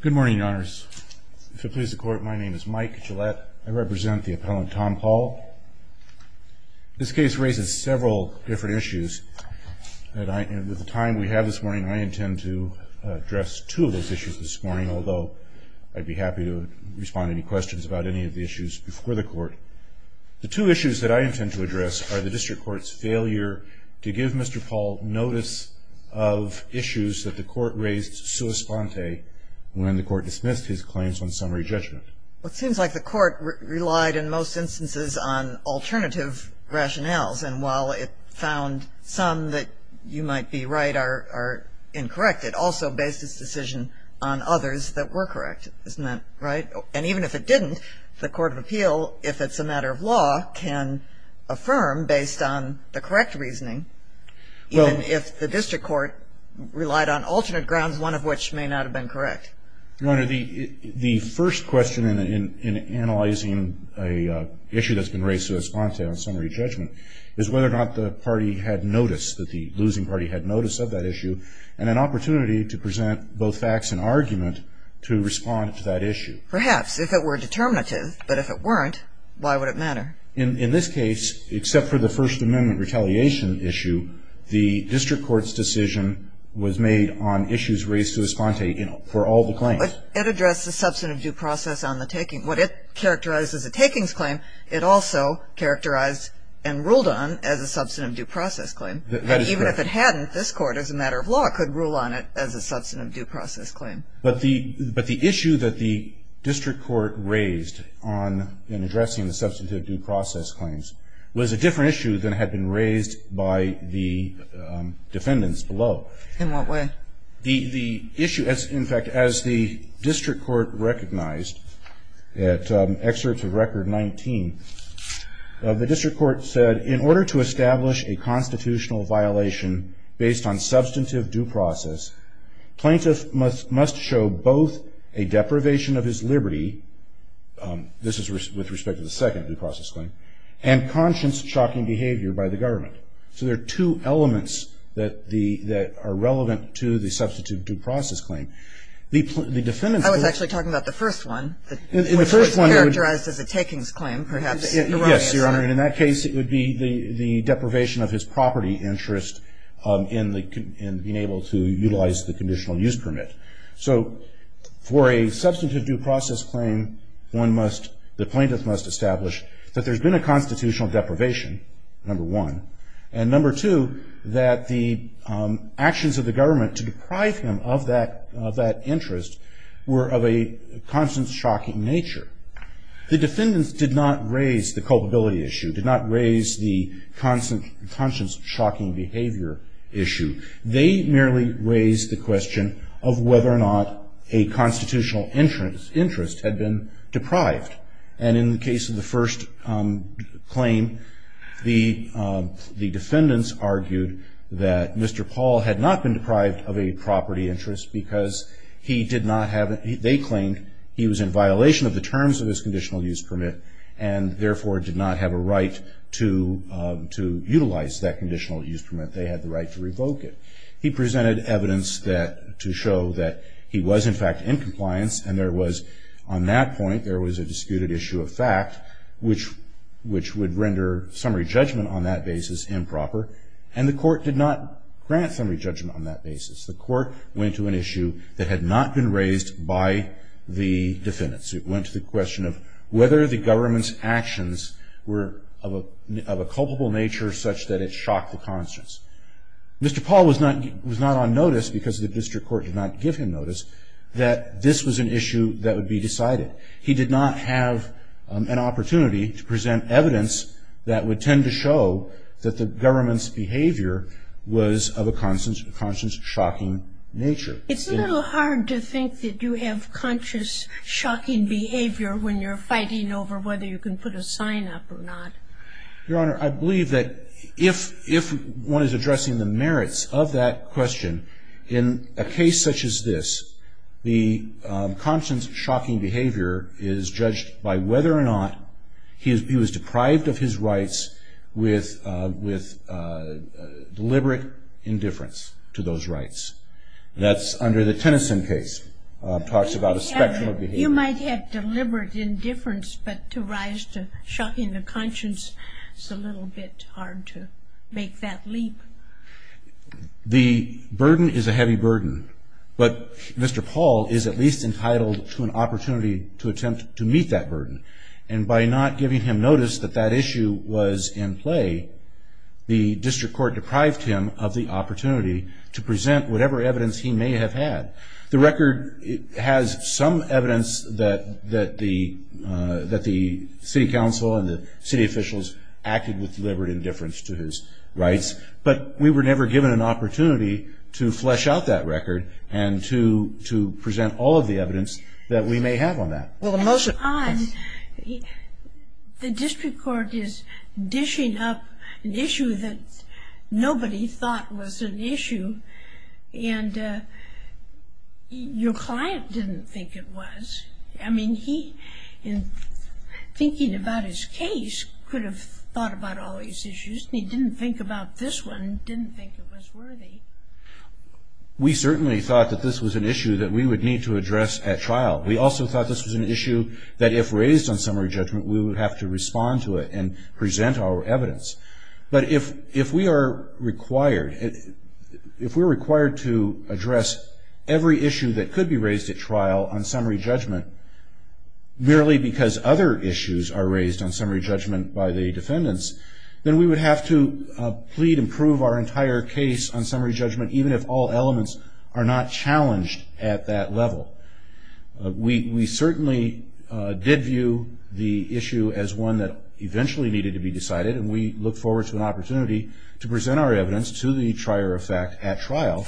Good morning, your honors. If it pleases the court, my name is Mike Gillette. I represent the appellant, Tom Paul. This case raises several different issues. With the time we have this morning, I intend to address two of those issues this morning, although I'd be happy to respond to any questions about any of the issues before the court. The two issues that I intend to address are the district court's failure to give Mr. Paul notice of issues that the court raised sua sponte when the court dismissed his claims on summary judgment. Well, it seems like the court relied, in most instances, on alternative rationales. And while it found some that you might be right are incorrect, it also based its decision on others that were correct. Isn't that right? And even if it didn't, the Court of Appeal, if it's a matter of law, can affirm based on the correct reasoning. Well, if the district court relied on alternate grounds, one of which may not have been correct. Your Honor, the first question in analyzing a issue that's been raised sua sponte on summary judgment is whether or not the party had noticed that the losing party had notice of that issue and an opportunity to present both facts and argument to respond to that issue. Perhaps, if it were determinative. But if it weren't, why would it matter? In this case, except for the First Amendment retaliation issue, the district court's decision was made on issues raised sua sponte for all the claims. It addressed the substantive due process on the taking. What it characterized as a takings claim, it also characterized and ruled on as a substantive due process claim. Even if it hadn't, this court, as a matter of law, could rule on it as a substantive due process claim. But the issue that the district court raised on addressing the substantive due process claims was a different issue than had been raised by the defendants below. In what way? The issue, in fact, as the district court recognized at excerpts of record 19, the district court said, in order to establish a constitutional violation based on substantive due process, plaintiff must show both a deprivation of his liberty. This is with respect to the second due process claim. And conscience-shocking behavior by the government. So there are two elements that are relevant to the substantive due process claim. The defendants will- I was actually talking about the first one. In the first one- Which was characterized as a takings claim, perhaps- Yes, Your Honor. And in that case, it would be the deprivation of his property interest in being able to utilize the conditional use permit. So for a substantive due process claim, the plaintiff must establish that there's been a constitutional deprivation, number one. And number two, that the actions of the government to deprive him of that interest were of a conscience-shocking nature. The defendants did not raise the culpability issue, did not raise the conscience-shocking behavior issue. They merely raised the question of whether or not a constitutional interest had been deprived. And in the case of the first claim, the defendants argued that Mr. Paul had not been deprived of a property interest because he did not have- they claimed he was in violation of the terms of his conditional use permit, and therefore did not have a right to utilize that conditional use permit. They had the right to revoke it. He presented evidence to show that he was, in fact, in compliance. And there was, on that point, there was a disputed issue of fact, which would render summary judgment on that basis improper. And the court did not grant summary judgment on that basis. The court went to an issue that had not been raised by the defendants. It went to the question of whether the government's actions were of a culpable nature such that it shocked the conscience. Mr. Paul was not on notice because the district court did not give him notice that this was an issue that would be decided. He did not have an opportunity to present evidence that would tend to show that the government's behavior was of a conscience-shocking nature. It's a little hard to think that you have conscious, shocking behavior when you're fighting over whether you can put a sign up or not. Your Honor, I believe that if one is addressing the merits of that question in a case such as this, the conscience-shocking behavior is judged by whether or not he was deprived of his rights with deliberate indifference to those rights. That's under the Tennyson case. Talks about a spectrum of behavior. You might have deliberate indifference, but to rise to shocking the conscience, it's a little bit hard to make that leap. The burden is a heavy burden. But Mr. Paul is at least entitled to an opportunity to attempt to meet that burden. And by not giving him notice that that issue was in play, the district court deprived him of the opportunity to present whatever evidence he may have had. The record has some evidence that the city council and the city officials acted with deliberate indifference to his rights. But we were never given an opportunity to flesh out that record and to present all of the evidence that we may have on that. Well, most of the time, the district court is dishing up an issue that nobody thought was an issue. And your client didn't think it was. I mean, he, in thinking about his case, could have thought about all these issues. He didn't think about this one, didn't think it was worthy. We certainly thought that this was an issue that we would need to address at trial. We also thought this was an issue that if raised on summary judgment, we would have to respond to it and present our evidence. But if we are required to address every issue that could be raised at trial on summary judgment merely because other issues are raised on summary judgment by the defendants, then we would have to plead and prove our entire case on summary judgment even if all elements are not challenged at that level. We certainly did view the issue as one that eventually needed to be decided. And we look forward to an opportunity to present our evidence to the trier of fact at trial.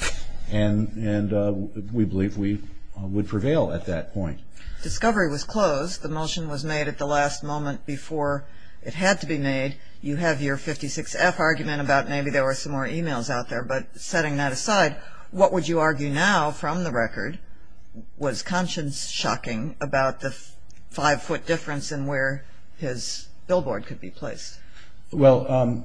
And we believe we would prevail at that point. Discovery was closed. The motion was made at the last moment before it had to be made. You have your 56F argument about maybe there were some more emails out there. But setting that aside, what would you argue now from the record? Was conscience shocking about the five foot difference in where his billboard could be placed? Well,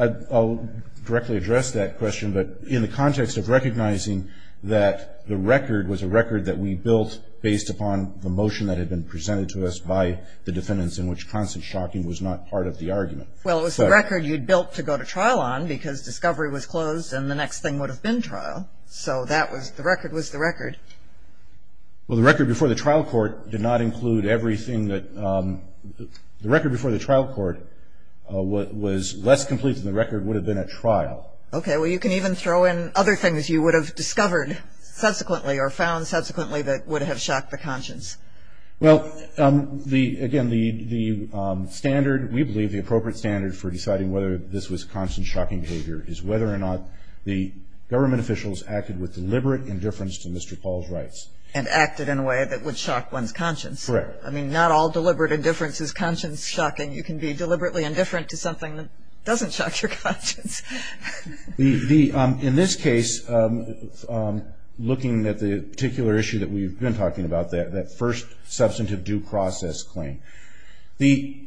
I'll directly address that question. But in the context of recognizing that the record was a record that we built based upon the motion that had been presented to us by the defendants in which conscience shocking was not part of the argument. Well, it was the record you'd built to go to trial on because discovery was closed and the next thing would have been trial. So that was the record was the record. Well, the record before the trial court did not include everything that the record before the trial court was less complete than the record would have been at trial. OK, well, you can even throw in other things you would have discovered subsequently or found subsequently that would have shocked the conscience. Well, again, we believe the appropriate standard for deciding whether this was conscience shocking behavior is whether or not the government officials acted with deliberate indifference to Mr. Paul's rights. And acted in a way that would shock one's conscience. Correct. I mean, not all deliberate indifference You can be deliberately indifferent to something that doesn't shock your conscience. In this case, looking at the particular issue that we've been talking about, that first substantive due process claim, the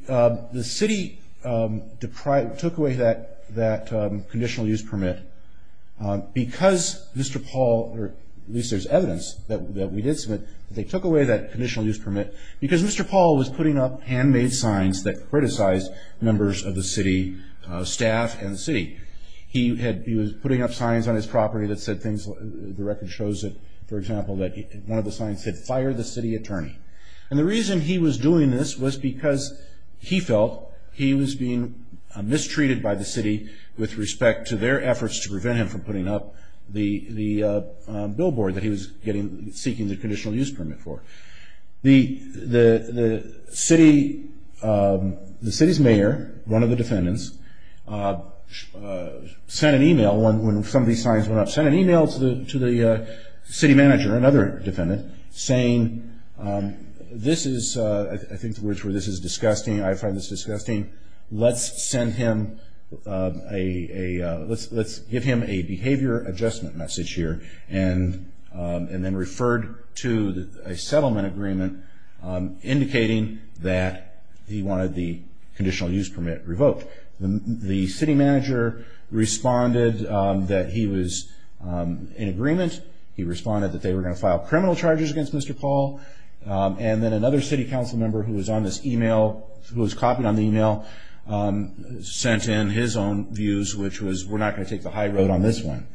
city took away that conditional use permit because Mr. Paul, or at least there's evidence that we did submit, they took away that conditional use permit because Mr. Paul was putting up handmade signs that criticized members of the city staff and the city. He was putting up signs on his property that said things, the record shows it, for example, that one of the signs said, fire the city attorney. And the reason he was doing this was because he felt he was being mistreated by the city with respect to their efforts to prevent him from putting up the billboard that he was seeking the conditional use permit for. The city's mayor, one of the defendants, sent an email when some of these signs went up, sent an email to the city manager, another defendant, saying, I think the words were, this is disgusting, I find this disgusting, let's give him a behavior adjustment message here, and then referred to a settlement agreement indicating that he wanted the conditional use permit revoked. The city manager responded that he was in agreement. He responded that they were going to file criminal charges against Mr. Paul. And then another city council member who was on this email, who was copying on the email, sent in his own views, which was, we're not going to take the high road on this one.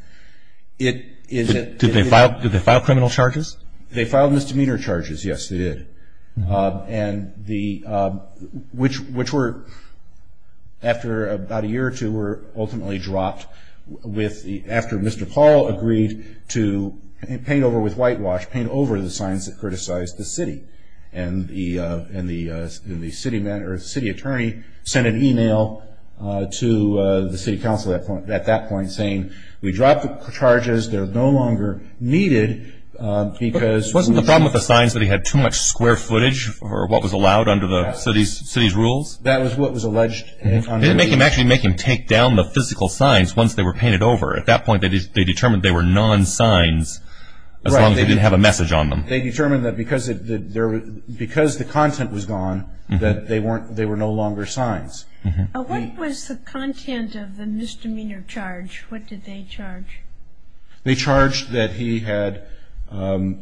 Did they file criminal charges? They filed misdemeanor charges, yes, they did. And which were, after about a year or two, were ultimately dropped after Mr. Paul agreed to paint over with whitewash, paint over the signs that criticized the city. And the city attorney sent an email to the city council at that point, saying, we dropped the charges, they're no longer needed, because- Wasn't the problem with the signs that he had too much square footage, or what was allowed under the city's rules? That was what was alleged. They didn't actually make him take down the physical signs once they were painted over. At that point, they determined they were non-signs, as long as they didn't have a message on them. They determined that because the content was gone, that they were no longer signs. What was the content of the misdemeanor charge? What did they charge? They charged that he had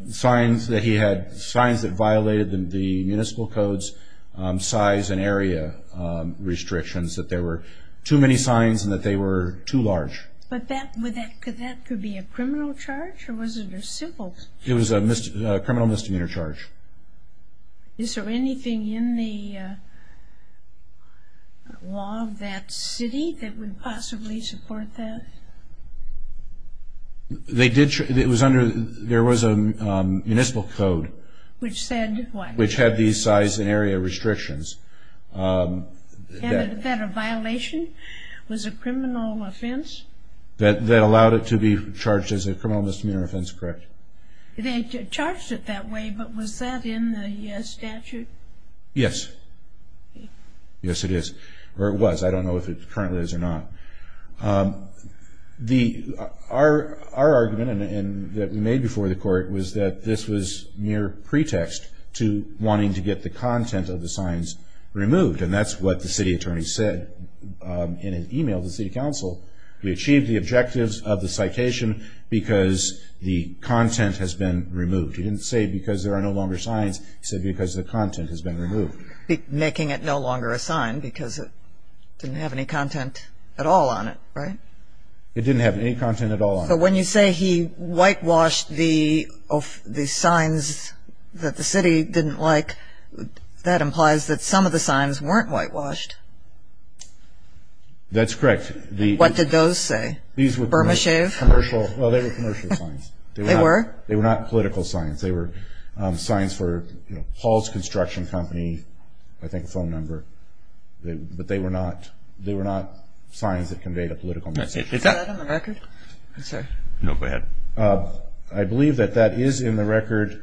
signs that violated the municipal code's size and area restrictions, that there were too many signs and that they were too large. But that could be a criminal charge, or was it a civil? It was a criminal misdemeanor charge. Is there anything in the law of that city that would possibly support that? There was a municipal code- Which said what? Which had these size and area restrictions. That a violation was a criminal offense? That allowed it to be charged as a criminal misdemeanor offense, correct. They charged it that way, but was that in the statute? Yes. Yes, it is. Or it was. I don't know if it currently is or not. Our argument, and that we made before the court, was that this was mere pretext to wanting to get the content of the signs removed. And that's what the city attorney said in an email to the city council. We achieved the objectives of the citation because the content has been removed. He didn't say because there are no longer signs. He said because the content has been removed. Making it no longer a sign because it didn't have any content at all on it, right? It didn't have any content at all on it. But when you say he whitewashed the signs that the city didn't like, that implies that some of the signs weren't whitewashed. That's correct. What did those say? Burma shave? Well, they were commercial signs. They were not political signs. They were signs for Paul's Construction Company, I think a phone number. But they were not signs that conveyed a political message. Is that on the record? No, go ahead. I believe that that is in the record.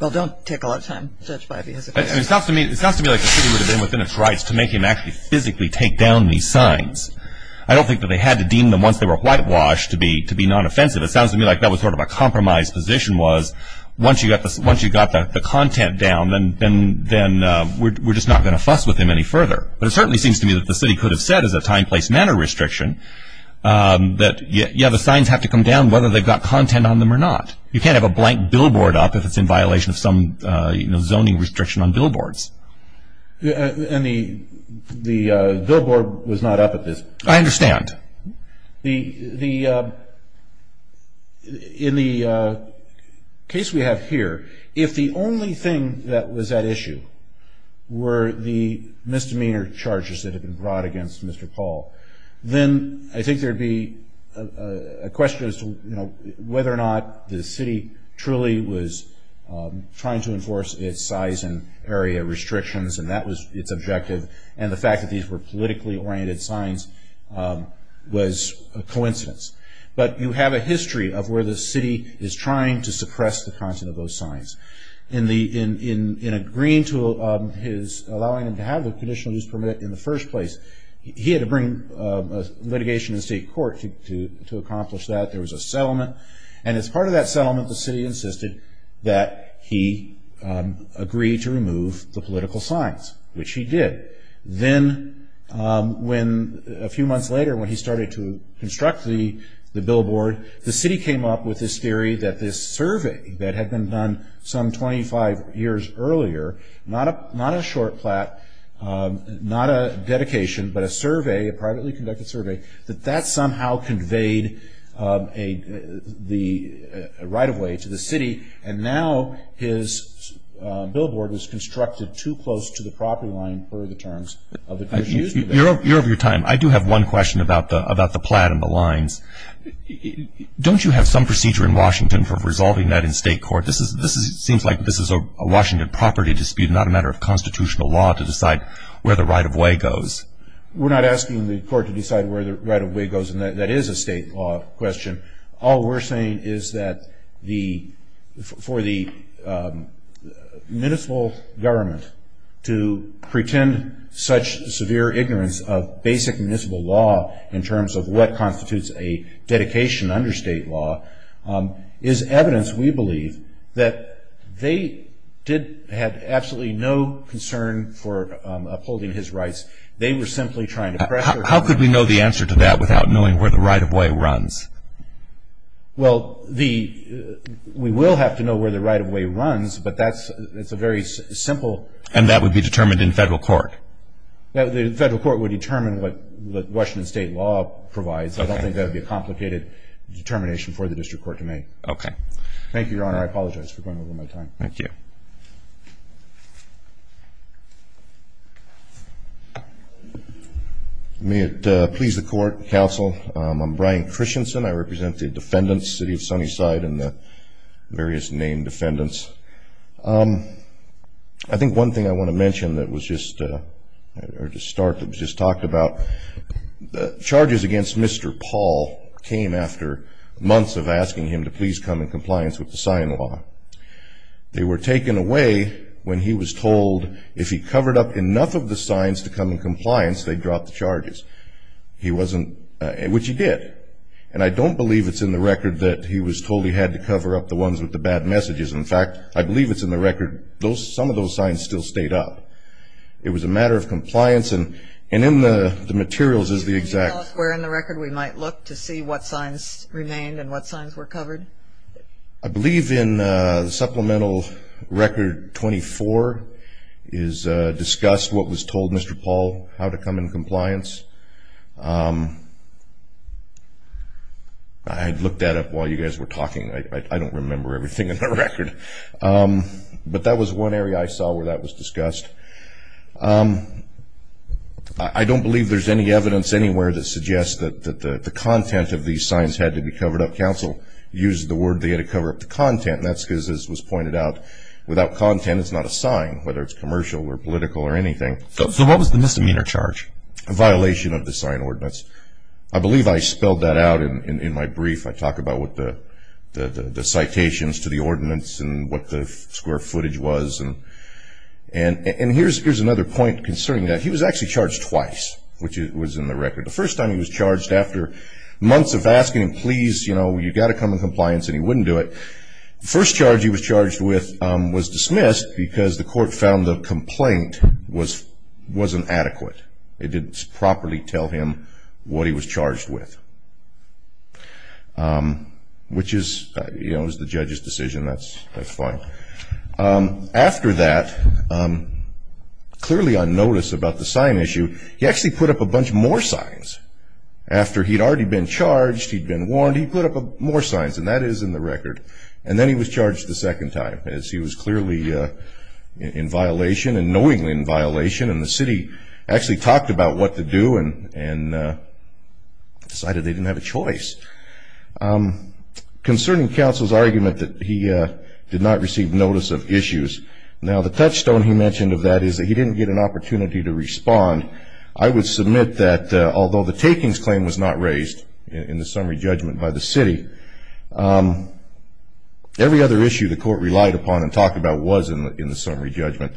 Well, don't take a lot of time, Judge Bivey. It sounds to me like the city would make him actually physically take down these signs. I don't think that they had to deem them once they were whitewashed to be non-offensive. It sounds to me like that was sort of a compromise position was once you got the content down, then we're just not going to fuss with him any further. But it certainly seems to me that the city could have said as a time, place, manner restriction that, yeah, the signs have to come down whether they've got content on them or not. You can't have a blank billboard up if it's in violation of some zoning restriction on billboards. Yeah, and the billboard was not up at this point. I understand. The, in the case we have here, if the only thing that was at issue were the misdemeanor charges that had been brought against Mr. Paul, then I think there'd be a question as to whether or not the city truly was trying to enforce its size and area restrictions, and that was its objective, and the fact that these were politically oriented signs was a coincidence. But you have a history of where the city is trying to suppress the content of those signs. In agreeing to his allowing him to have the conditional use permit in the first place, he had to bring litigation in state court to accomplish that. There was a settlement. And as part of that settlement, the city brought in political signs, which he did. Then when, a few months later, when he started to construct the billboard, the city came up with this theory that this survey that had been done some 25 years earlier, not a short plat, not a dedication, but a survey, a privately conducted survey, that that somehow conveyed the right of way to the city. And now his billboard is constructed too close to the property line for the terms of the conditional use permit. You're of your time. I do have one question about the plat and the lines. Don't you have some procedure in Washington for resolving that in state court? This seems like this is a Washington property dispute, not a matter of constitutional law to decide where the right of way goes. We're not asking the court to decide where the right of way goes, and that is a state law question. All we're saying is that for the municipal government to pretend such severe ignorance of basic municipal law, in terms of what constitutes a dedication under state law, is evidence, we believe, that they had absolutely no concern for upholding his rights. They were simply trying to pressure him. How could we know the answer to that without knowing where the right of way runs? Well, we will have to know where the right of way runs, but that's a very simple. And that would be determined in federal court? The federal court would determine what Washington state law provides. I don't think that would be a complicated determination for the district court to make. Thank you, Your Honor. I apologize for going over my time. Thank you. Thank you. May it please the court, counsel, I'm Brian Christensen. I represent the defendants, City of Sunnyside, and the various named defendants. I think one thing I want to mention that was just to start that was just talked about, the charges against Mr. Paul came after months of asking him to please come in compliance with the sign law. They were taken away when he was told if he covered up enough of the signs to come in compliance, they'd drop the charges, which he did. And I don't believe it's in the record that he was told he had to cover up the ones with the bad messages. In fact, I believe it's in the record, some of those signs still stayed up. It was a matter of compliance, and in the materials is the exact- Can you tell us where in the record we might look to see what signs remained and what signs were covered? I believe in Supplemental Record 24 is discussed what was told Mr. Paul how to come in compliance. I had looked that up while you guys were talking. I don't remember everything in the record. But that was one area I saw where that was discussed. I don't believe there's any evidence anywhere that suggests that the content of these signs had to be covered up. Counsel used the word they had to cover up the content. That's because, as was pointed out, without content it's not a sign, whether it's commercial or political or anything. So what was the misdemeanor charge? A violation of the sign ordinance. I believe I spelled that out in my brief. I talk about what the citations to the ordinance and what the square footage was. And here's another point concerning that. He was actually charged twice, which was in the record. The first time he was charged after months of asking him, please, you've got to come in compliance and he wouldn't do it. First charge he was charged with was dismissed because the court found the complaint wasn't adequate. It didn't properly tell him what he was charged with. Which is the judge's decision. That's fine. After that, clearly on notice about the sign issue, he actually put up a bunch more signs. After he'd already been charged, he'd been warned, he put up more signs. And that is in the record. And then he was charged the second time as he was clearly in violation and knowingly in violation. And the city actually talked about what to do and decided they didn't have a choice. Concerning counsel's argument that he did not receive notice of issues. Now the touchstone he mentioned of that is that he didn't get an opportunity to respond. I would submit that although the takings claim was not raised in the summary judgment by the city, every other issue the court relied upon and talked about was in the summary judgment.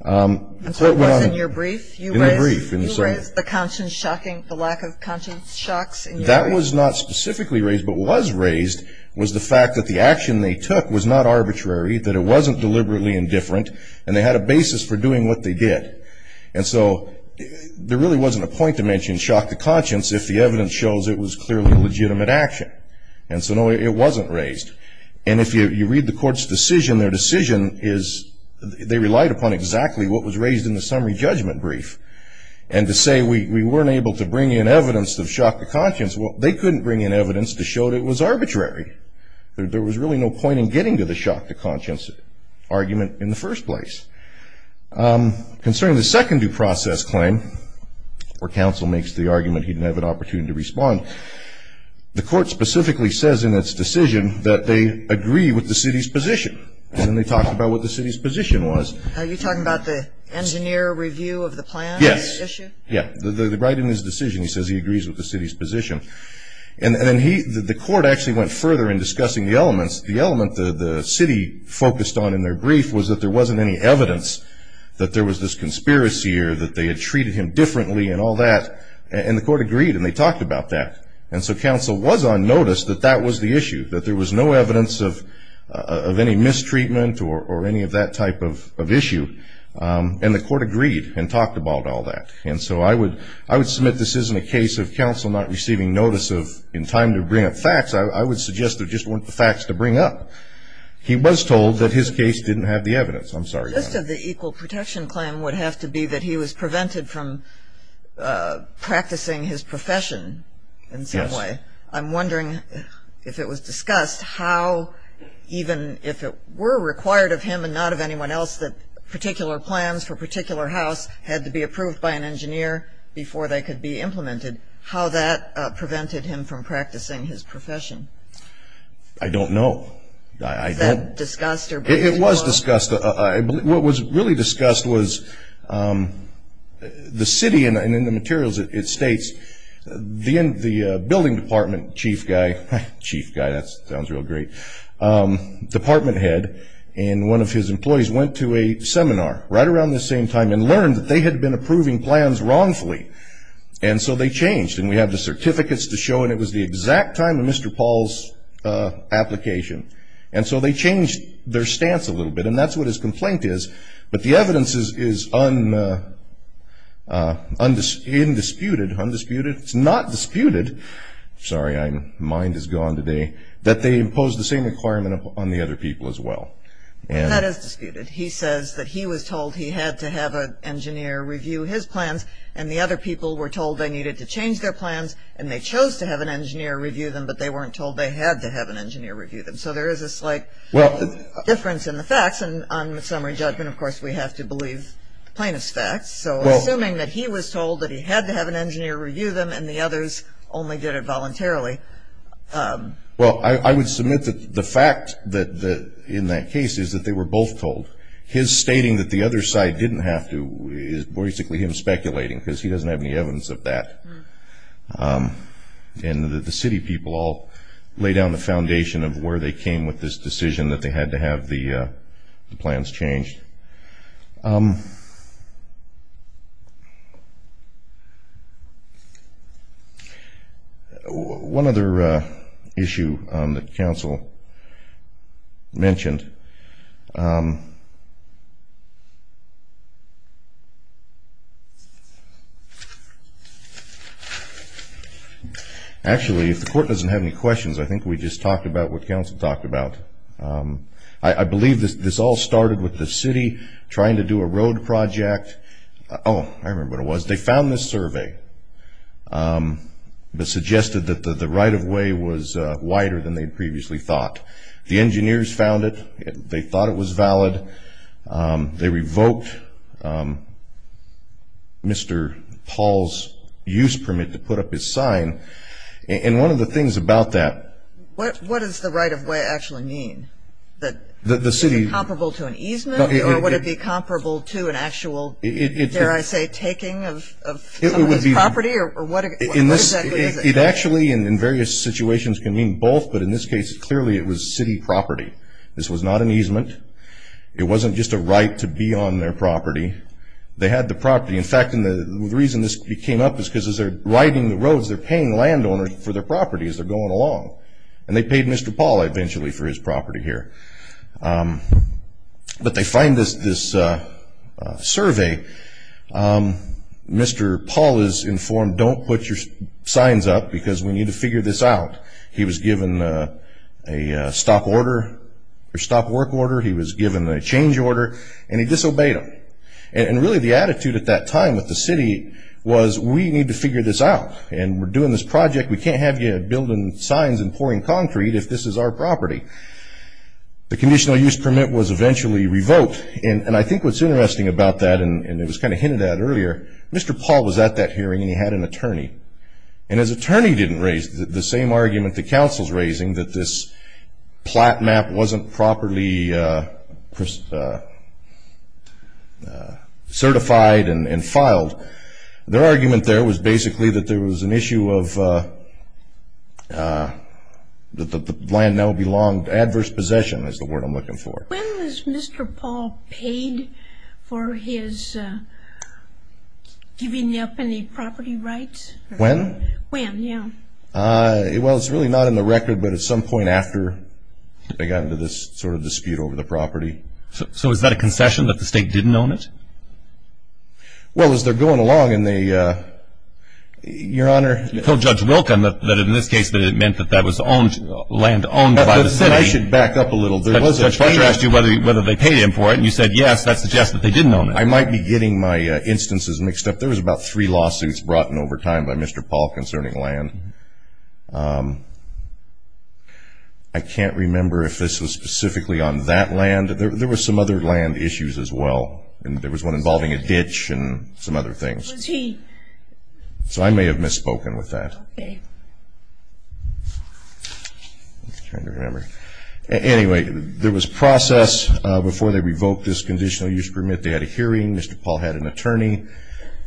The court was in your brief? In the brief. You raised the conscience shocking, the lack of conscience shocks. That was not specifically raised, but was raised was the fact that the action they took was not arbitrary, that it wasn't deliberately indifferent, and they had a basis for doing what they did. And so there really wasn't a point to mention shock to conscience if the evidence shows it was clearly a legitimate action. And so no, it wasn't raised. And if you read the court's decision, their decision is they relied upon exactly what was raised in the summary judgment brief. And to say we weren't able to bring in evidence of shock to conscience, well, they couldn't bring in evidence to show that it was arbitrary. There was really no point in getting to the shock to conscience argument in the first place. Concerning the second due process claim, where counsel makes the argument he didn't have an opportunity to respond, the court specifically says in its decision that they agree with the city's position. And then they talked about what the city's position was. Are you talking about the engineer review of the plan? Yes. Yeah, right in his decision, he says he agrees with the city's position. And then the court actually went further in discussing the elements. The element the city focused on in their brief was that there wasn't any evidence that there was this conspiracy or that they had treated him differently and all that. And the court agreed. And they talked about that. And so counsel was on notice that that was the issue, that there was no evidence of any mistreatment or any of that type of issue. And the court agreed and talked about all that. And so I would submit this isn't a case of counsel not receiving notice of in time to bring up facts. I would suggest there just weren't the facts to bring up. He was told that his case didn't have the evidence. I'm sorry. Just of the equal protection claim would have to be that he was prevented from practicing his profession in some way. I'm wondering if it was discussed how even if it were required of him and not of anyone else that particular plans for a particular house had to be approved by an engineer before they could be implemented, how that prevented him from practicing his profession. I don't know. Is that discussed or brought to court? It was discussed. What was really discussed was the city and in the materials it states the building department chief guy, chief guy, that sounds real great, department head and one of his employees went to a seminar right around the same time and learned that they had been approving plans wrongfully. And so they changed. And we have the certificates to show. And it was the exact time of Mr. Paul's application. And so they changed their stance a little bit. And that's what his complaint is. But the evidence is undisputed. It's not disputed, sorry, my mind is gone today, that they imposed the same requirement on the other people as well. That is disputed. He says that he was told he had to have an engineer review his plans and the other people were told they needed to change their plans and they chose to have an engineer review them, but they weren't told they had to have an engineer review them. So there is a slight difference in the facts. And on summary judgment, of course, we have to believe the plaintiff's facts. So assuming that he was told that he had to have an engineer review them and the others only did it voluntarily. Well, I would submit that the fact in that case is that they were both told. His stating that the other side didn't have to is basically him speculating because he doesn't have any evidence of that. And the city people all lay down the foundation of where they came with this decision that they had to have the plans changed. OK, one other issue that counsel mentioned, actually, if the court doesn't have any questions, I think we just talked about what counsel talked about. I believe this all started with the city trying to do a road project. Oh, I remember what it was. They found this survey that suggested that the right of way was wider than they previously thought. The engineers found it. They thought it was valid. They revoked Mr. Paul's use permit to put up his sign. And one of the things about that. What does the right of way actually mean? That the city is comparable to an easement? Or would it be comparable to an actual, dare I say, taking of somebody's property? Or what exactly is it? It actually, in various situations, can mean both. But in this case, clearly it was city property. This was not an easement. It wasn't just a right to be on their property. They had the property. In fact, the reason this came up is because as they're riding the roads, they're paying landowners for their property as they're going along. And they paid Mr. Paul, eventually, for his property here. But they find this survey. Mr. Paul is informed, don't put your signs up because we need to figure this out. He was given a stop work order. He was given a change order. And he disobeyed them. And really, the attitude at that time with the city was, we need to figure this out. And we're doing this project. We can't have you building signs and pouring concrete if this is our property. The conditional use permit was eventually revoked. And I think what's interesting about that, and it was kind of hinted at earlier, Mr. Paul was at that hearing. And he had an attorney. And his attorney didn't raise the same argument the council's raising, that this plat map wasn't properly certified and filed. Their argument there was basically that there was an issue of that the land now belonged, adverse possession is the word I'm looking for. When was Mr. Paul paid for his giving up any property rights? When? When, yeah. Well, it's really not in the record. But at some point after they got into this sort of dispute over the property. So is that a concession that the state didn't own it? Well, as they're going along and they, your honor. You told Judge Wilken that in this case that it meant that that was land owned by the city. I should back up a little bit. Judge Fletcher asked you whether they paid him for it. And you said, yes, that suggests that they didn't own it. I might be getting my instances mixed up. There was about three lawsuits brought in over time by Mr. Paul concerning land. I can't remember if this was specifically on that land. There were some other land issues as well. And there was one involving a ditch and some other things. Was he? So I may have misspoken with that. OK. Trying to remember. Anyway, there was process before they revoked this conditional use permit. They had a hearing. Mr. Paul had an attorney.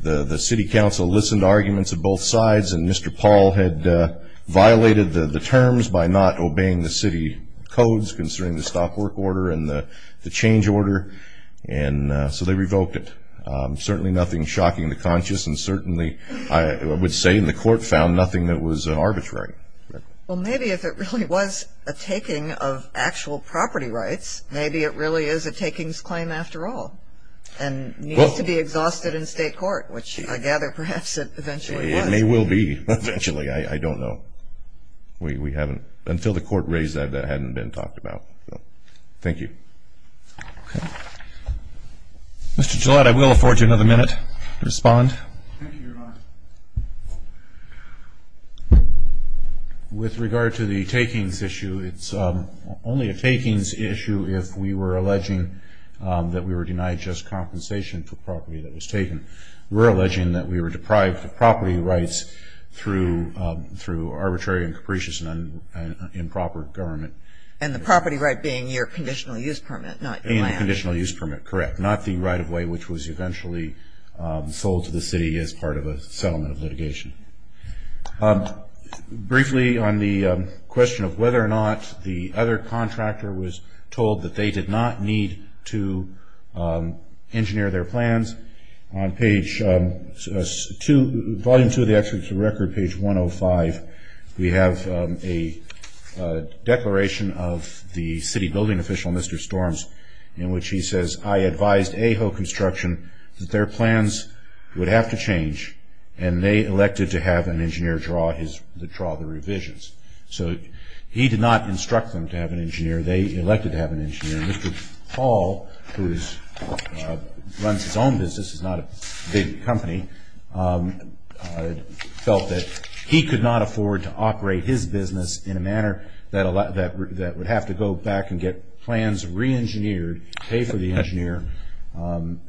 The city council listened to arguments of both sides. And Mr. Paul had violated the terms by not obeying the city codes concerning the stop work order and the change order. And so they revoked it. Certainly nothing shocking to conscience. And certainly, I would say in the court, found nothing that was arbitrary. Well, maybe if it really was a taking of actual property rights, maybe it really is a takings claim after all. And needs to be exhausted in state court, which I gather perhaps it eventually was. It may well be, eventually. I don't know. We haven't, until the court raised that, that hadn't been talked about. Thank you. Mr. Gillette, I will afford you another minute to respond. Thank you, Your Honor. With regard to the takings issue, it's only a takings issue if we were alleging that we were denied just compensation for property that was taken. We're alleging that we were deprived of property rights through arbitrary and capricious and improper government. And the property right being your conditional use permit, not land. In the conditional use permit, correct. Not the right of way, which was eventually sold to the city as part of a settlement of litigation. Briefly, on the question of whether or not the other contractor was told that they did not need to engineer their plans, on page two, volume two of the experts record, page 105, we have a declaration of the city building official, Mr. Storms, in which he says, I advised AHO construction that their plans would have to change, and they elected to have an engineer draw the revisions. So he did not instruct them to have an engineer. They elected to have an engineer. Mr. Hall, who runs his own business, is not a big company, that would have to go back and get plans re-engineered, pay for the engineer, time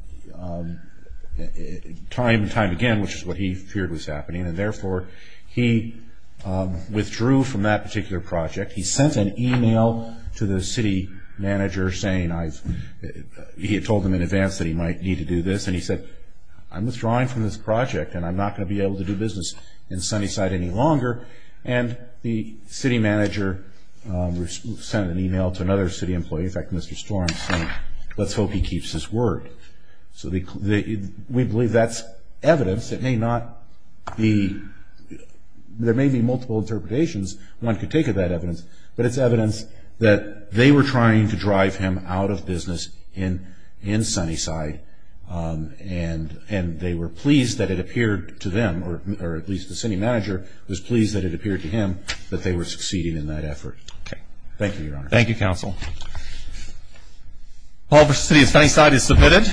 and time again, which is what he feared was happening. And therefore, he withdrew from that particular project. He sent an email to the city manager saying, he had told him in advance that he might need to do this. And he said, I'm withdrawing from this project, and I'm not going to be able to do business in Sunnyside any longer. And the city manager sent an email to another city employee, in fact, Mr. Storms, saying, let's hope he keeps his word. So we believe that's evidence. It may not be, there may be multiple interpretations one could take of that evidence, but it's evidence that they were trying to drive him out of business in Sunnyside, and they were pleased that it appeared to them, or at least the city manager was pleased that it appeared to him that they were succeeding in that effort. Thank you, Your Honor. Thank you, counsel. Paul versus city of Sunnyside is submitted.